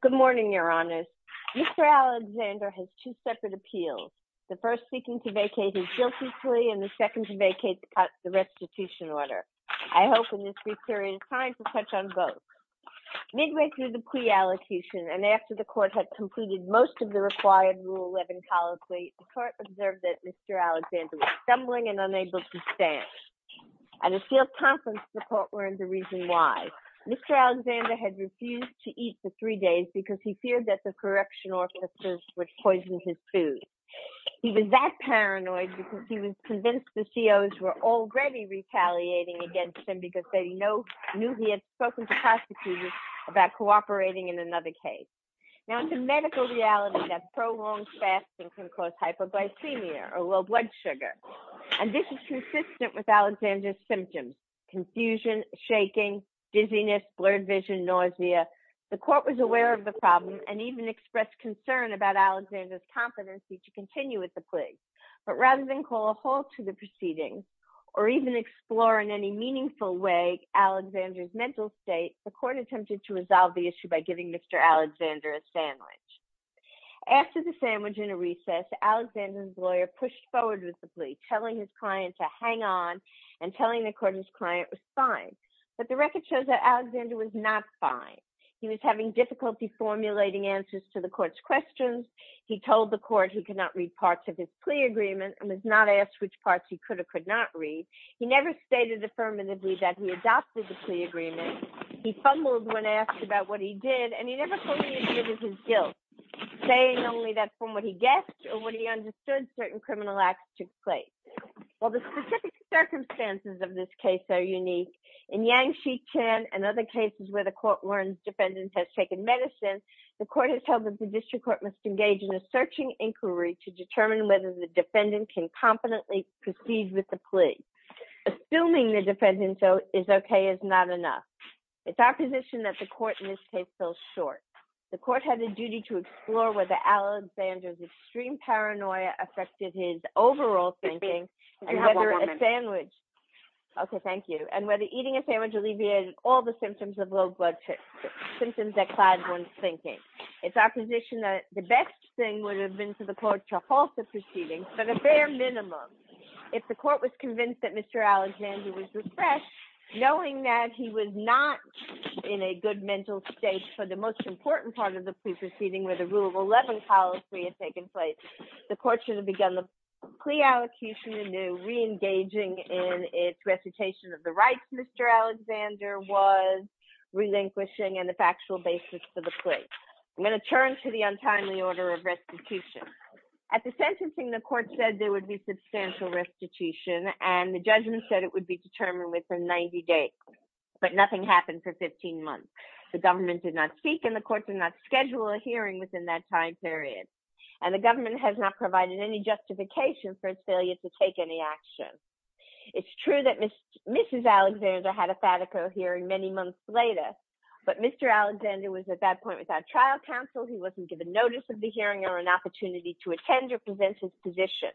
Good morning, Your Honors. Mr. Alexander has two separate appeals, the first seeking to vacate his guilty plea and the second to vacate the restitution order. I hope in this brief period of time to touch on both. Midway through the plea allocution and after the court had completed most of the required Rule 11 policy, the court observed that Mr. Alexander was stumbling and unable to stand. At a point, he refused to eat for three days because he feared that the correction officers would poison his food. He was that paranoid because he was convinced the COs were already retaliating against him because they knew he had spoken to prosecutors about cooperating in another case. Now, it's a medical reality that prolonged fasting can cause hypoglycemia or low blood sugar. And this is consistent with Alexander's symptoms, confusion, shaking, dizziness, blurred vision, nausea. The court was aware of the problem and even expressed concern about Alexander's competency to continue with the plea. But rather than call a halt to the proceedings or even explore in any meaningful way Alexander's mental state, the court attempted to resolve the issue by giving Mr. Alexander a sandwich. After the sandwich and a recess, Alexander's lawyer pushed forward with the plea, telling his client to hang on and telling the court his client was not fine. But the record shows that Alexander was not fine. He was having difficulty formulating answers to the court's questions. He told the court he could not read parts of his plea agreement and was not asked which parts he could or could not read. He never stated affirmatively that he adopted the plea agreement. He fumbled when asked about what he did and he never fully admitted his guilt, saying only that from what he guessed or what he understood certain criminal acts took place. While the specific circumstances of this case are unique, in Yang, Sheetan, and other cases where the court learns defendant has taken medicine, the court has told that the district court must engage in a searching inquiry to determine whether the defendant can competently proceed with the plea. Assuming the defendant is okay is not enough. It's our position that the court in this case fell short. The court had a duty to explore whether Alexander's extreme paranoia affected his overall thinking. Okay, thank you. And whether eating a sandwich alleviated all the symptoms of low blood pressure, symptoms that cloud one's thinking. It's our position that the best thing would have been for the court to halt the proceedings, but a fair minimum. If the court was convinced that Mr. Alexander was refreshed, knowing that he was not in a good mental state for the most important part of the plea proceeding where the Rule of Eleven policy had taken place, the court should have begun the plea allocution anew, re-engaging in its recitation of the rights Mr. Alexander was relinquishing and the factual basis for the plea. I'm going to turn to the untimely order of restitution. At the sentencing, the court said there would be substantial restitution and the judgment said it would be determined within 90 days, but nothing happened for 15 months. The government did not speak and the court did not schedule a hearing within that time period, and the government has not provided any justification for its failure to take any action. It's true that Mrs. Alexander had a fatical hearing many months later, but Mr. Alexander was at that point without trial counsel. He wasn't given notice of the hearing or an opportunity to attend or present his position.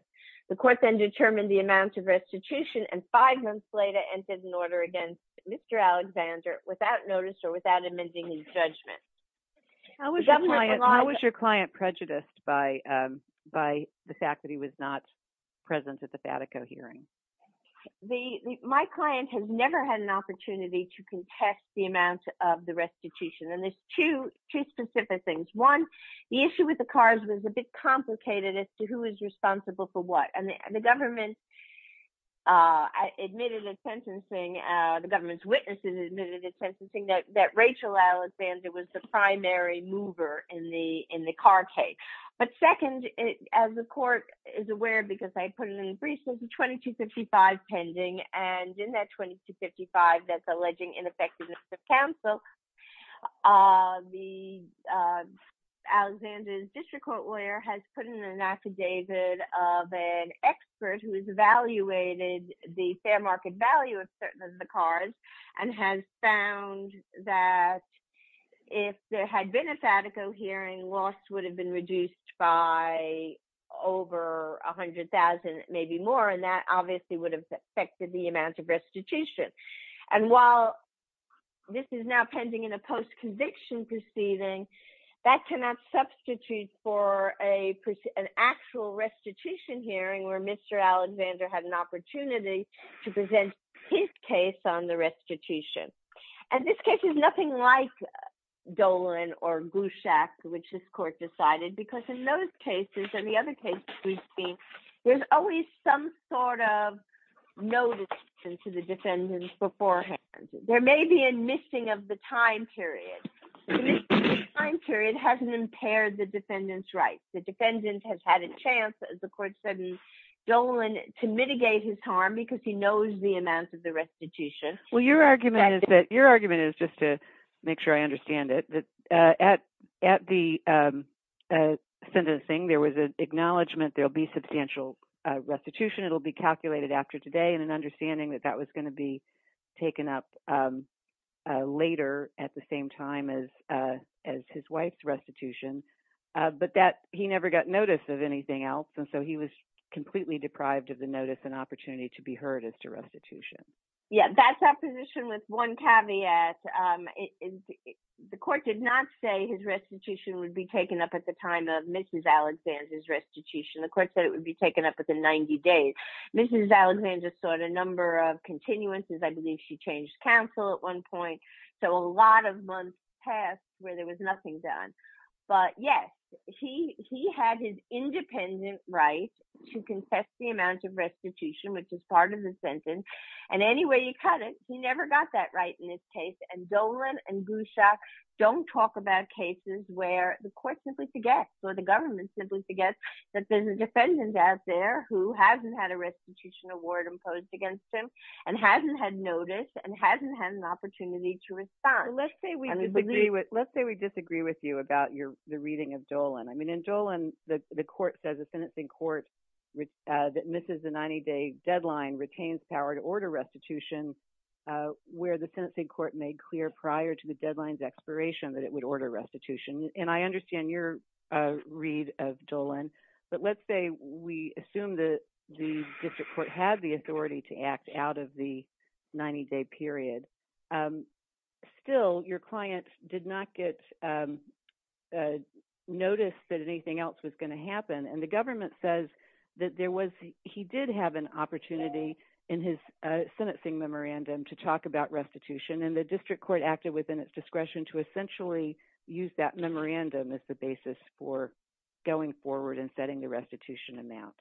The court then determined the amount of restitution and five months later entered an order against Mr. Alexander without notice or without amending his judgment. How was your client prejudiced by the fact that he was not present at the fatical hearing? My client has never had an opportunity to contest the amount of the restitution, and there's two specific things. One, the issue with the cars was a bit complicated as to who is responsible for what, and the government admitted at sentencing that Rachel Alexander was the primary mover in the in the car case. But second, as the court is aware because I put it in the briefs, there's a 2255 pending, and in that 2255 that's alleging ineffectiveness of counsel, the Alexander's district court lawyer has put in an affidavit of an expert who has market value of certain of the cars and has found that if there had been a fatical hearing, loss would have been reduced by over a hundred thousand, maybe more, and that obviously would have affected the amount of restitution. And while this is now pending in a post-conviction proceeding, that cannot substitute for an actual restitution hearing where Mr. Alexander had an opportunity to present his case on the restitution. And this case is nothing like Dolan or Goushak, which this court decided, because in those cases and the other cases we've seen, there's always some sort of notice to the defendants beforehand. There may be a missing of the time period. The missing of the time period hasn't impaired the defendant's rights. The defendant has had a chance, as the court said, Dolan, to mitigate his harm because he knows the amounts of the restitution. Well your argument is that, your argument is, just to make sure I understand it, that at the sentencing there was an acknowledgment there'll be substantial restitution. It'll be calculated after today and an understanding that that was going to be taken up later at the same time as his wife's restitution, but that he never got notice of anything else and so he was completely deprived of the notice and opportunity to be heard as to restitution. Yeah, that's our position with one caveat. The court did not say his restitution would be taken up at the time of Mrs. Alexander's restitution. The court said it would be taken up at the 90 days. Mrs. Alexander sought a number of continuances. I believe she changed counsel at one point, so a lot of months passed where there was nothing done. But yes, he had his independent right to contest the amount of restitution, which is part of the sentence, and anyway you cut it, he never got that right in this case and Dolan and Gusha don't talk about cases where the court simply forgets or the government simply forgets that there's a defendant out there who hasn't had a restitution award imposed against him and hasn't had notice and hasn't had an opportunity to respond. Let's say we disagree with you about the reading of Dolan. I mean, in Dolan, the court says a sentencing court that misses the 90-day deadline retains power to order restitution where the sentencing court made clear prior to the deadline's expiration that it would order restitution, and I understand your read of Dolan, but let's say we assume that the district court had the opportunity to talk about restitution and the district court acted within its discretion to essentially use that memorandum as the basis for going forward and setting the restitution amount.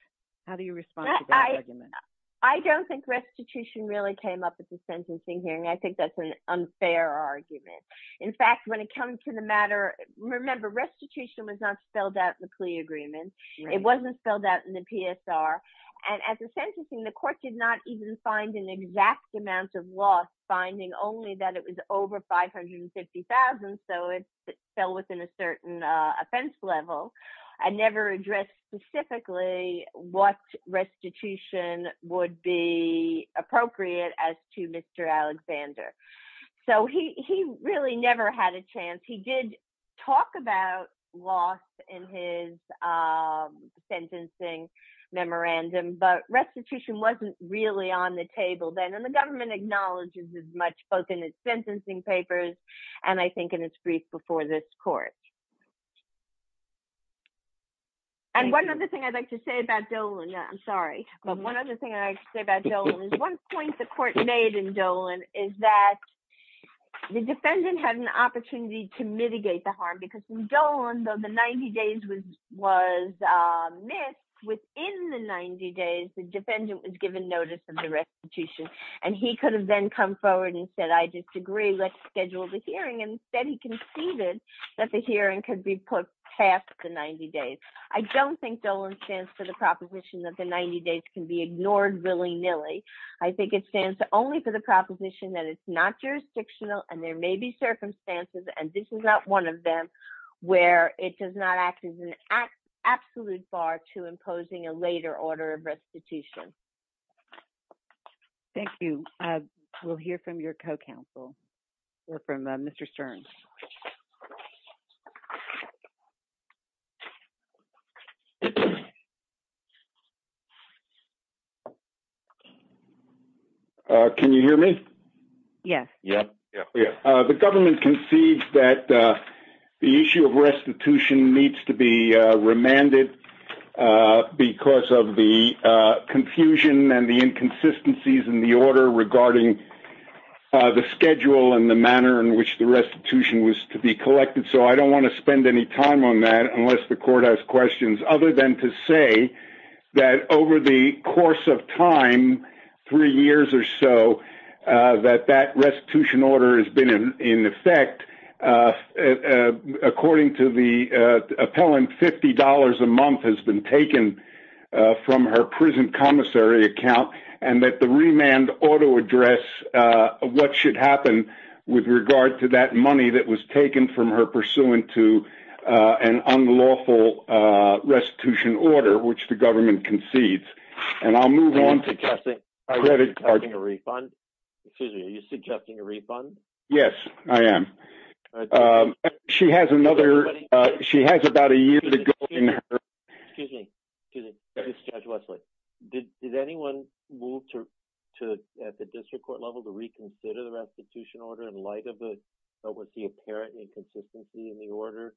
How do you respond? I don't think restitution really came up at the sentencing hearing. I think that's an unfair argument. In fact, when it comes to the matter, remember restitution was not spelled out in the plea agreement. It wasn't spelled out in the PSR, and as a sentencing, the court did not even find an exact amount of loss, finding only that it was over 550,000, so it fell within a certain offense level. I never addressed specifically what restitution would be appropriate as to Mr. Alexander. So he really never had a chance. He did talk about loss in his sentencing memorandum, but restitution wasn't really on the table then, and the government acknowledges as much both in its sentencing papers and I think in its brief before this court. And one other thing I'd like to say about Dolan, I'm sorry, but one other thing I'd like to say about Dolan is one point the court made in that the defendant had an opportunity to mitigate the harm, because when Dolan, though the 90 days was missed, within the 90 days the defendant was given notice of the restitution, and he could have then come forward and said, I disagree, let's schedule the hearing, and instead he conceded that the hearing could be put past the 90 days. I don't think Dolan stands for the proposition that the 90 days can be ignored willy-nilly. I think it stands only for the proposition that it's not jurisdictional and there may be circumstances, and this is not one of them, where it does not act as an absolute bar to imposing a later order of restitution. Thank you. We'll hear from your co-counsel, or from Mr. Stern. Can you hear me? Yes. The government concedes that the issue of restitution needs to be remanded because of the confusion and the inconsistencies in the restitution was to be collected, so I don't want to spend any time on that unless the court has questions, other than to say that over the course of time, three years or so, that that restitution order has been in effect, according to the appellant, $50 a month has been taken from her prison commissary account, and that the remand ought to address what should happen with regard to that money that was taken from her pursuant to an unlawful restitution order, which the government concedes. And I'll move on to the credit card. Are you suggesting a refund? Yes, I am. She has another, she has about a year to go. Excuse me, Judge Wesley, did you ask the district court to, at the district court level, to reconsider the restitution order in light of the, what was the apparent inconsistency in the order,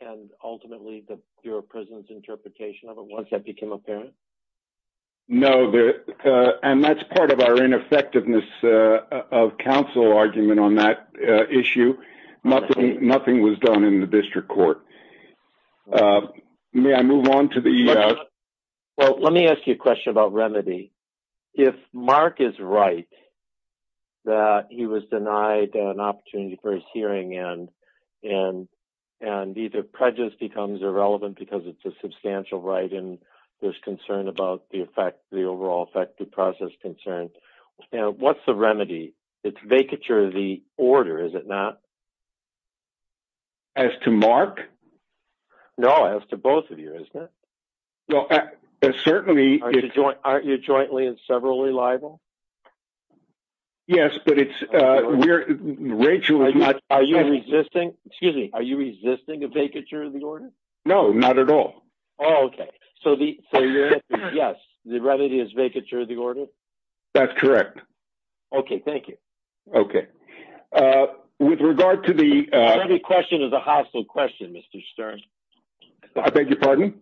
and ultimately the Bureau of Prisons interpretation of it once that became apparent? No, and that's part of our ineffectiveness of counsel argument on that issue. Nothing was done in the district court. May I move on to the... Well, let me ask you a question about remedy. If Mark is right, that he was denied an opportunity for his hearing, and either prejudice becomes irrelevant because it's a substantial right, and there's concern about the effect, the overall effective process concern, you know, what's the remedy? It's certainly... Aren't you jointly and severally liable? Yes, but it's, we're, Rachel... Are you resisting, excuse me, are you resisting a vacature of the order? No, not at all. Okay, so the remedy is vacature of the order? That's correct. Okay, thank you. Okay, with regard to the... Every question is a hostile question, Mr. I beg your pardon?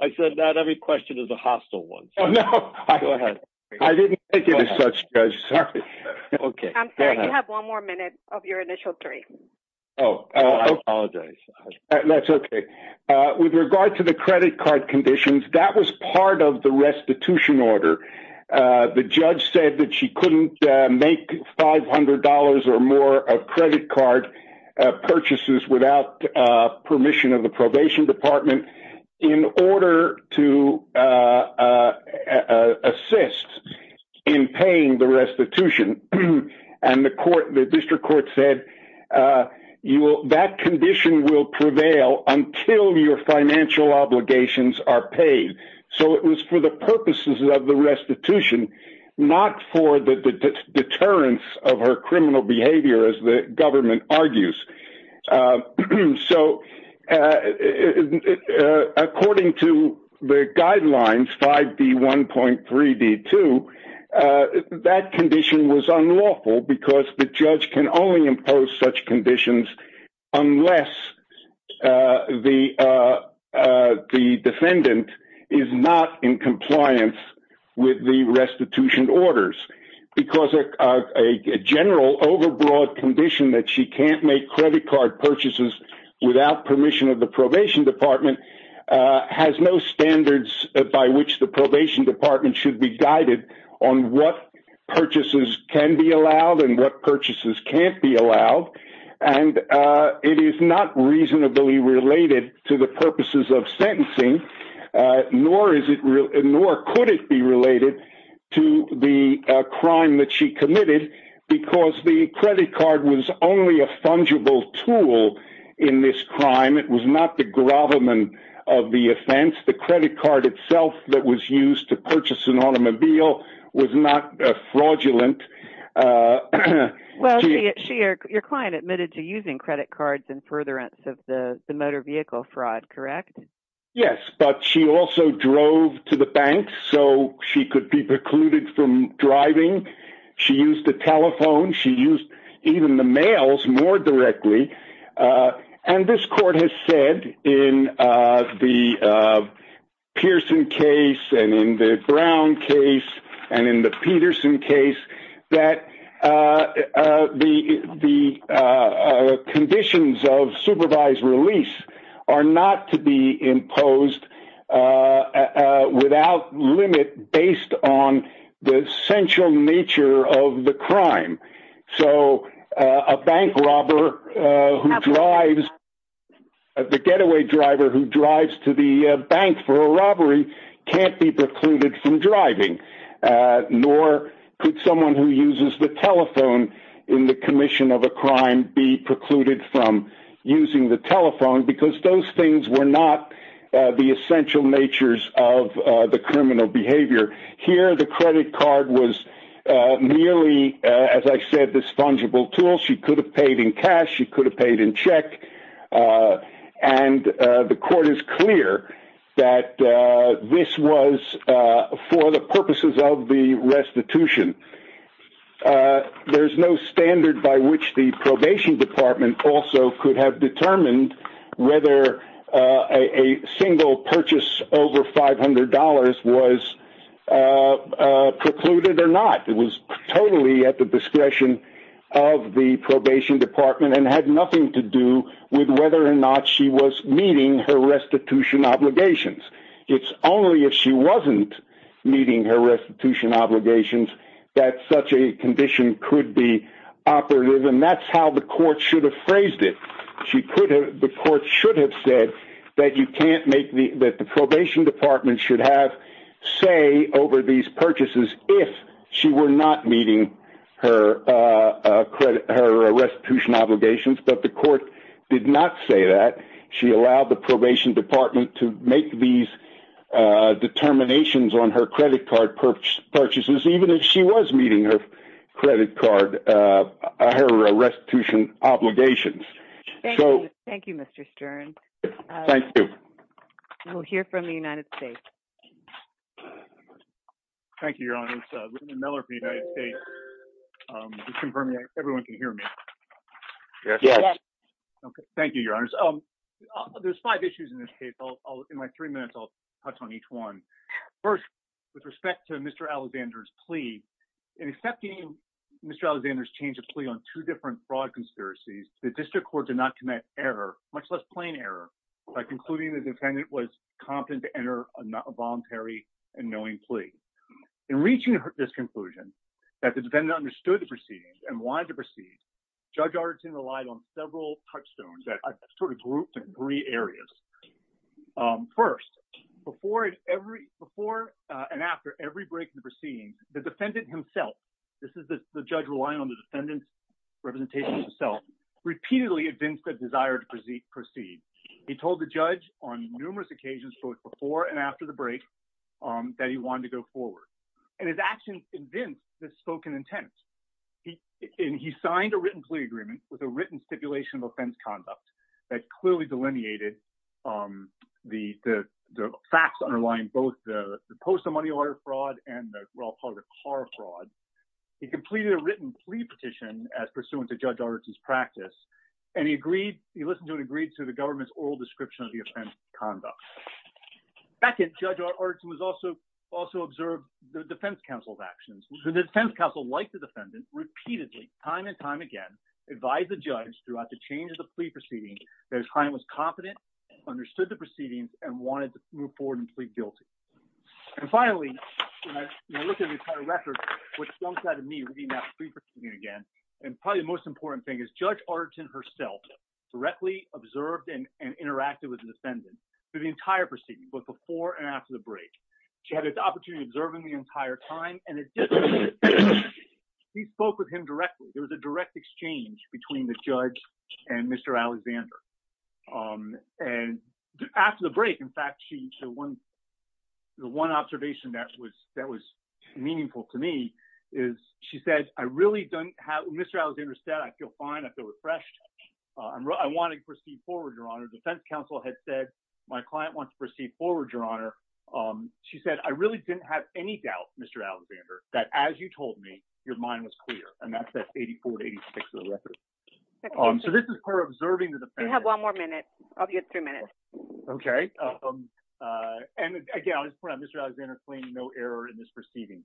I said that every question is a hostile one. Oh, no, I didn't think it as such, Judge. Sorry. Okay. I'm sorry, you have one more minute of your initial three. Oh, I apologize. That's okay. With regard to the credit card conditions, that was part of the restitution order. The judge said that she couldn't make $500 or more of credit card purchases without permission of the probation department in order to assist in paying the restitution, and the court, the district court said, you will, that condition will prevail until your financial obligations are paid. So it was for the purposes of the restitution, not for the deterrence of her criminal behavior, as the government argues. So according to the guidelines, 5D1.3D2, that condition was unlawful because the judge can only impose such conditions unless the defendant is not in compliance with the restitution orders, because a general, overbroad condition that she can't make credit card purchases without permission of the probation department has no standards by which the probation department should be guided on what purchases can be allowed and what purchases can't be allowed, and it is not reasonably related to the crime that she committed, because the credit card was only a fungible tool in this crime. It was not the gravamen of the offense. The credit card itself that was used to purchase an automobile was not fraudulent. Well, your client admitted to using credit cards in furtherance of the motor vehicle fraud, correct? Yes, but she also drove to the bank so she could be precluded from driving. She used the telephone. She used even the mails more directly, and this court has said in the Pearson case and in the Brown case and in the Peterson case that the conditions of supervised release are not to be imposed without limit based on the essential nature of the crime, so a bank robber who drives, the getaway driver who drives to the bank for a robbery can't be precluded from driving, nor could someone who uses the telephone in the commission of a crime be precluded from using the telephone, because those things were not the essential natures of the criminal behavior. Here, the credit card was merely, as I said, this fungible tool. She could have paid in cash. She could have paid in check, and the court is clear that this was for the purposes of the restitution. There's no standard by which the probation department also could have determined whether a single purchase over $500 was precluded or not. It was totally at the discretion of the probation department and had nothing to do with whether or not she was meeting her restitution obligations. It's only if she wasn't meeting her restitution obligations that such a condition could be operative, and that's how the court should have phrased it. The court should have said that the probation department should have say over these purchases if she were not meeting her restitution obligations, but the court did not say that. She allowed the probation department to make these determinations on her credit card purchases, even if she was meeting her credit card, her restitution obligations. Thank you, Mr. Stern. Thank you. We'll hear from the United States. Thank you, Your Honors. William Miller for the United States. Can you confirm that everyone can hear me? Yes. Thank you, Your Honors. There's five issues in this case. In my three minutes, I'll touch on each one. First, with respect to Mr. Alexander's plea, in accepting Mr. Alexander's change of plea on two different fraud conspiracies, the district court did not commit error, much less plain error, by concluding the defendant was competent to enter a voluntary and knowing plea. In reaching this conclusion, that the defendant understood the proceedings and wanted to proceed, Judge Artisan relied on several touchstones that I've sort of grouped in three areas. First, before and after every break in the proceedings, the defendant himself, this is the judge relying on the defendant's representation himself, repeatedly evinced a desire to proceed. He told the judge on numerous occasions, both before and after the break, that he wanted to go forward. And his actions evinced this spoken intent. And he signed a written plea agreement with a written stipulation of offense conduct that clearly delineated the facts underlying both the post of money order fraud and the car fraud. He completed a written plea petition as pursuant to Judge Artisan's practice, and he listened to and agreed to the government's oral description of the offense conduct. Back in, Judge Artisan also observed the defense counsel's actions. The defense counsel, like the defendant, repeatedly, time and time again, advised the judge throughout the change of the plea proceedings that his client was confident, understood the proceedings, and wanted to move forward and plead guilty. And finally, when I look at the entire record, what jumps out at me reading that plea proceeding again, and probably the most important thing is Judge Artisan herself directly observed and interacted with the defendant through the entire proceedings, both before and after the break. She had the opportunity of observing the entire time, and additionally, she spoke with him directly. There was a direct exchange between the judge and Mr. Alexander. And after the break, in fact, the one observation that was meaningful to me is she said, Mr. Alexander said, I feel fine, I feel refreshed, I want to proceed forward, Your Honor. The defense counsel had said, my client wants to proceed forward, Your Honor. She said, I really didn't have any doubt, Mr. Alexander, that as you told me, your mind was clear. And that's that 84-86 of the record. So this is her observing the defendant. You have one more minute. You have three minutes. Okay. And again, I'll just point out, Mr. Alexander claimed no error in this proceeding.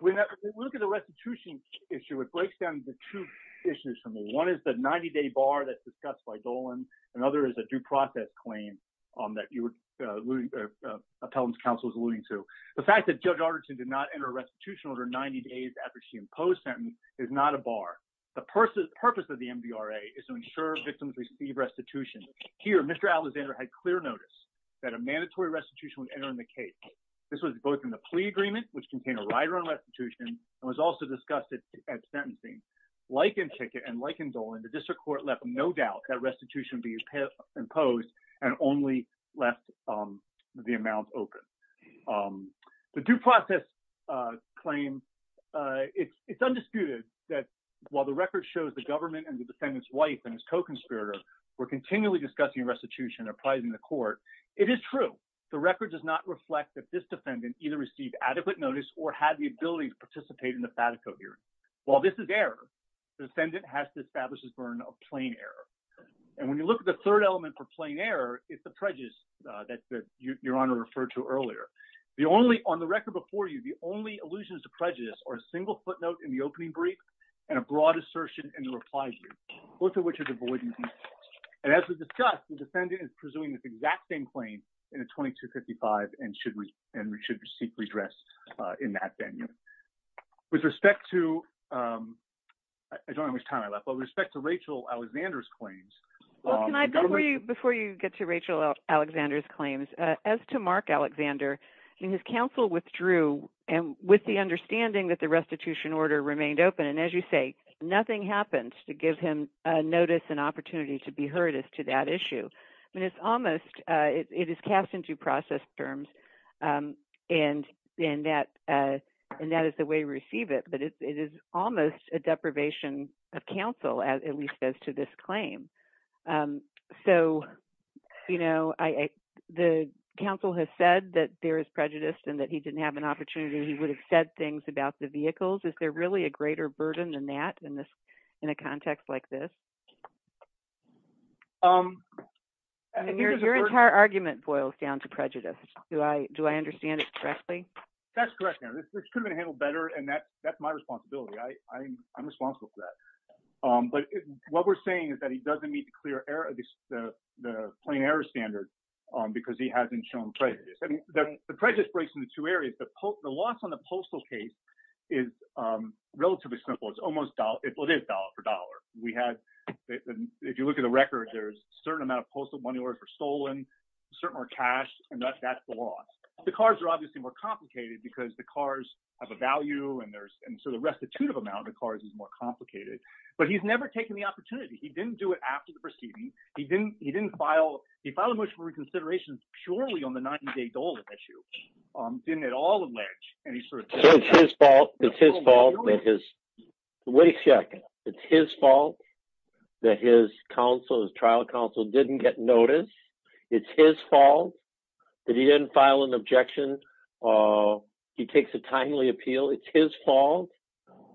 When I look at the restitution issue, it breaks down the two issues for me. One is the 90-day bar that's discussed by Dolan. Another is a due process claim that the appellant's counsel is alluding to. The fact that Judge Arderton did not enter a restitution order 90 days after she imposed the sentence is not a bar. The purpose of the MDRA is to ensure victims receive restitution. Here, Mr. Alexander had clear notice that a mandatory restitution would enter in the case. This was both in the plea agreement, which contained a right-of-way restitution, and was also discussed at sentencing. no doubt that restitution was not a bar. It's not a bar. It's not a bar. enforcement requirements and the restitution order that should have been imposed and only left the amount open. The due process claim, it is undisputed that while the record shows government and the defendant's wife and his inconspirator continuously discussing restitution, the record does not reflect that this defendant had adequate notice or had the ability to participate in the FATACO hearing. While this is error, the defendant has to establish his burden of plain error. And when you look at the third element for plain error, it's the prejudice that Your Honor referred to earlier. On the record before you, the only allusions to prejudice are a single footnote in the opening brief and a broad assertion in the reply view, both of which are devoid of meaning. And as we discussed, the defendant is pursuing this exact same claim in a 2255 and should seek redress in that venue. With respect to I don't know how much time I left, but with respect to Rachel Alexander's claims Before you get to Rachel Alexander's claims, as to Mark Alexander, his counsel withdrew with the understanding that the restitution order remained open. And as you say, nothing happens to give him notice and opportunity to be heard as to that issue. I mean, it's almost it is cast into process terms and that is the way we receive it, but it is almost a deprivation of counsel at least as to this claim. So the counsel has said that there is prejudice and that he didn't have an opportunity. He would have said things about the vehicles. Is there really a greater burden than that in a context like this? Your entire argument boils down to prejudice. Do I understand it correctly? That's correct. This could have been handled better and that's my responsibility. I'm responsible for that. But what we're saying is that he doesn't meet the plain error standard because he hasn't shown prejudice. The prejudice breaks into two areas. The loss on the postal case is relatively simple. It is dollar for dollar. If you look at the record, there's a certain amount of postal money that was stolen, a certain amount of cash and that's the loss. The cars are obviously more complicated because the cars have a value and so the restitutive amount of cars is more complicated. But he's never taken the opportunity. He didn't do it after the proceeding. He didn't file a motion for reconsideration purely on the $90,000 issue. He didn't at all allege. It's his fault. Wait a second. It's his fault that his trial counsel didn't get noticed. It's his fault that he didn't file an objection. He takes a timely appeal. It's his fault.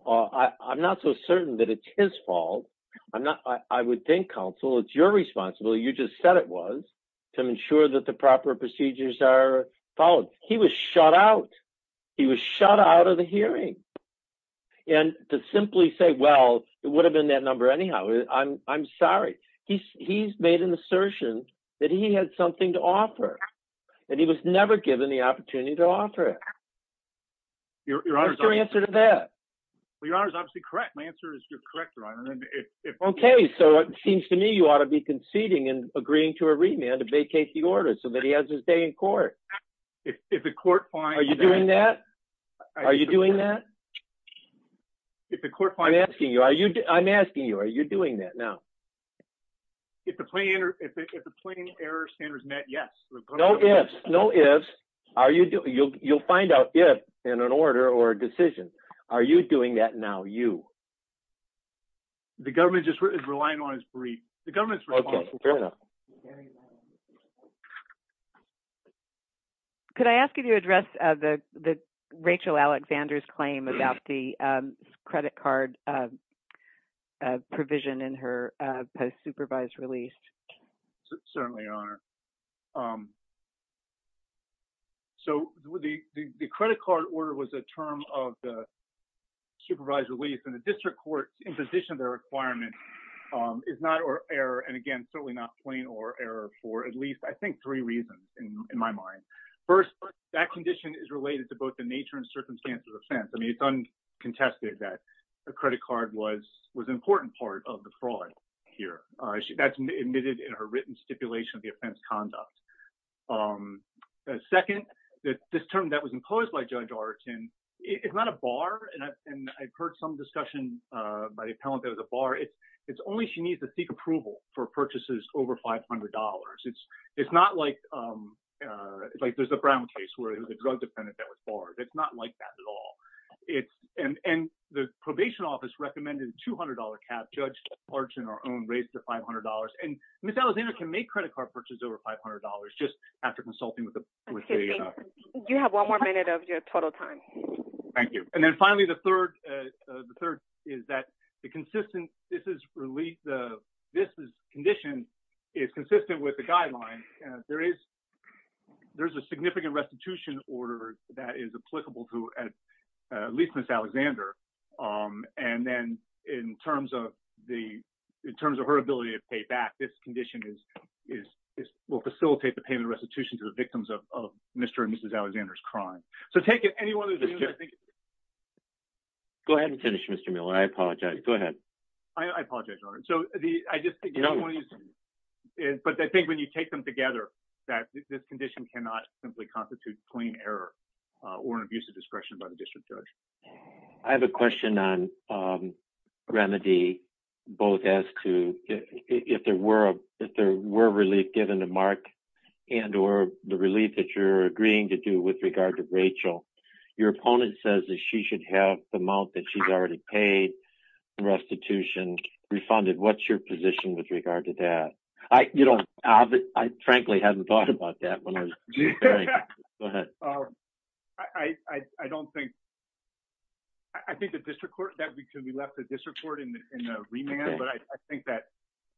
I'm not so certain that it's his fault. I would think, counsel, it's your responsibility. You just said it was to ensure that the proper procedures are followed. He was shut out. He was shut out of the hearing. To simply say, well, it would have been that number anyhow. I'm sorry. He's made an assertion that he had something to offer and he was never given the opportunity to offer it. What's your answer to that? Your Honor is obviously correct. My answer is you're correct, Your Honor. It seems to me you ought to be conceding and agreeing to a remand to vacate the order so that he has his day in court. Are you doing that? Are you doing that? I'm asking you. Are you doing that now? If the plain error standard is met, yes. No ifs. You'll find out if in an order or a decision. Are you doing that now, you? The government is relying on his brief. Okay. Fair enough. Could I ask you to address Rachel Alexander's claim about the credit card provision in her supervised release? Certainly, Your Honor. The credit card order was a term of the supervised release and the district court imposition of the requirement is not error and again, certainly not plain error for at least I think three reasons in my mind. First, that condition is related to both the nature and circumstance of the offense. I mean, it's uncontested that the credit card was an important part of the fraud here. That's admitted in her written stipulation of the offense conduct. Second, this term that was imposed by Judge Artin, it's not a bar and I've heard some discussion by the appellant that it was a bar. It's only she needs to seek approval for purchases over $500. It's not like there's a Brown case where it was a drug defendant that was barred. It's not like that at all. And the probation office recommended a $200 cap. Judge Artin on her own raised the $500 and Ms. Alexander can make credit card purchases over $500 just after consulting with the You have one more minute of your total time. Thank you. And then finally, the third is that the consistent this is released. This condition is consistent with the guidelines. There is there's a significant restitution order that is applicable to at least Ms. Alexander. And then in terms of the in terms of her ability to pay back this condition is will facilitate the payment restitution to the victims of Mr. And Mrs. Alexander's crime. So take it anyone. Go ahead and finish Mr. Miller. I apologize. Go ahead. I apologize. So the I just don't want to use but I think when you take them together that this condition cannot simply constitute clean error or abuse of discretion by the district judge. I have a question on remedy both as to if there were if there were relief given the mark and or the relief that you're agreeing to do with regard to Rachel, your opponent says that she should have the mouth that she's already paid restitution refunded. What's your position with regard to that? I you don't have it. I frankly haven't thought about that one. Go ahead. I don't think I think the district court that we left the district court in the remand but I think that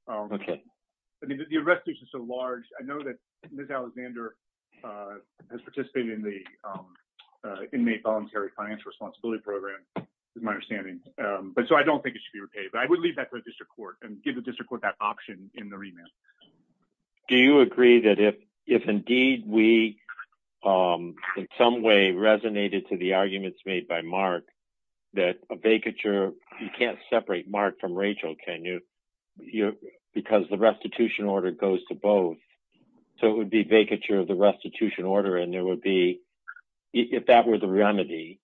the rest is so large. I know that Ms. Alexander has participated in the voluntary financial responsibility program with my understanding. But so I don't think it should be repaid. But I would leave that to the district court and give the district court that option in the remand. Do you agree that if indeed we in some way resonated to the arguments made by Mark that a vacature you can't separate Mark from Rachel, can you? Because the restitution order goes to both. So it would be vacature of the restitution order and there would be if that were the remedy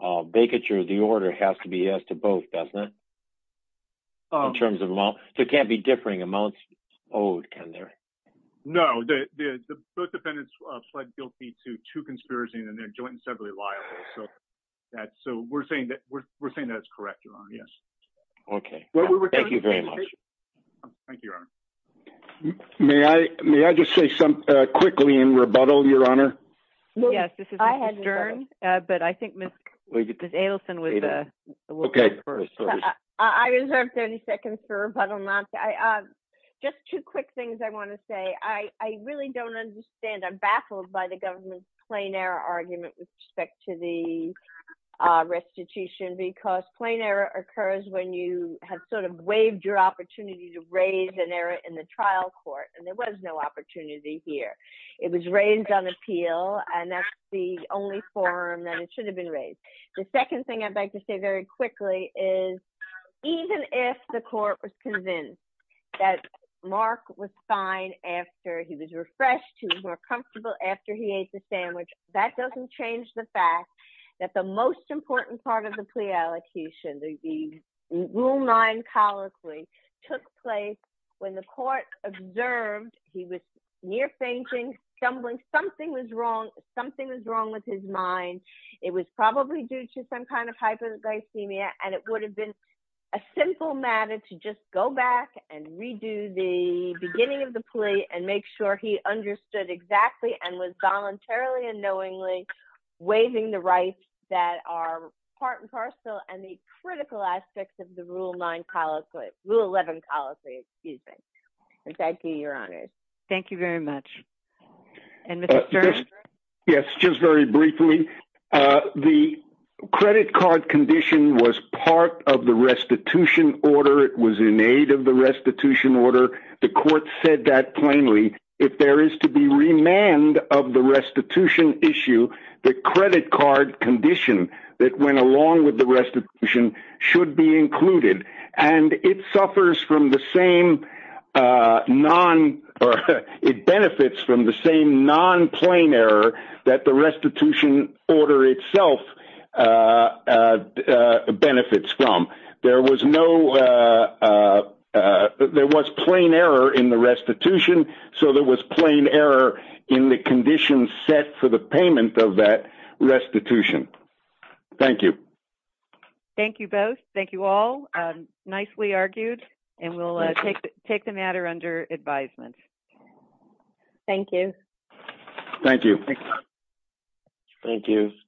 vacature of the order has to be yes to both, doesn't it? In terms of amount. So it can't be differing amounts owed, can there? No. Both defendants pled guilty to two conspiracies and they're jointly and separately liable. So we're saying that it's correct, Your Honor. Yes. Okay. Thank you very much. Thank you, Your Honor. May I just say something quickly in rebuttal, Your Honor? Yes, this is Mr. Stern, but I think Ms. Adelson would Okay. I reserve 30 seconds for rebuttal. Just two quick things I want to say. I really don't understand. I'm baffled by the government's plain error argument with respect to the restitution because plain error occurs when you have sort of waived your opportunity to raise an error in the trial court and there was no opportunity here. It was raised on appeal and that's the only forum that it should have been raised. The second thing I'd like to say very quickly is even if the court was convinced that Mark was fine after he was refreshed, he was more comfortable after he ate the sandwich, that doesn't change the fact that the most important part of the plea allocation, the rule 9 colloquy, took place when the court observed he was near fainting, stumbling, something was wrong, something was wrong with his mind. It was probably due to some kind of hypoglycemia and it would have been a simple matter to just go back and redo the beginning of the plea and make sure he understood exactly and was voluntarily and knowingly waiving the rights that are part and parcel and the critical aspects of the rule 9 colloquy, rule 9. Thank you, Your Honor. Thank you very much. Yes, just very briefly, the credit card condition was part of the restitution order. It was in aid of the restitution order. The court said that plainly. If there is to be remand of the restitution issue, the credit card condition that went along with the restitution should be included and it suffers from the same non, or it benefits from the same non-plain error that the restitution order itself benefits from. There was no there was plain error in the restitution so there was plain error in the condition set for the payment of that restitution. Thank you. Thank you both. Thank you all. Nicely argued and we'll take the matter under advisement. Thank you. Thank you. Thank you.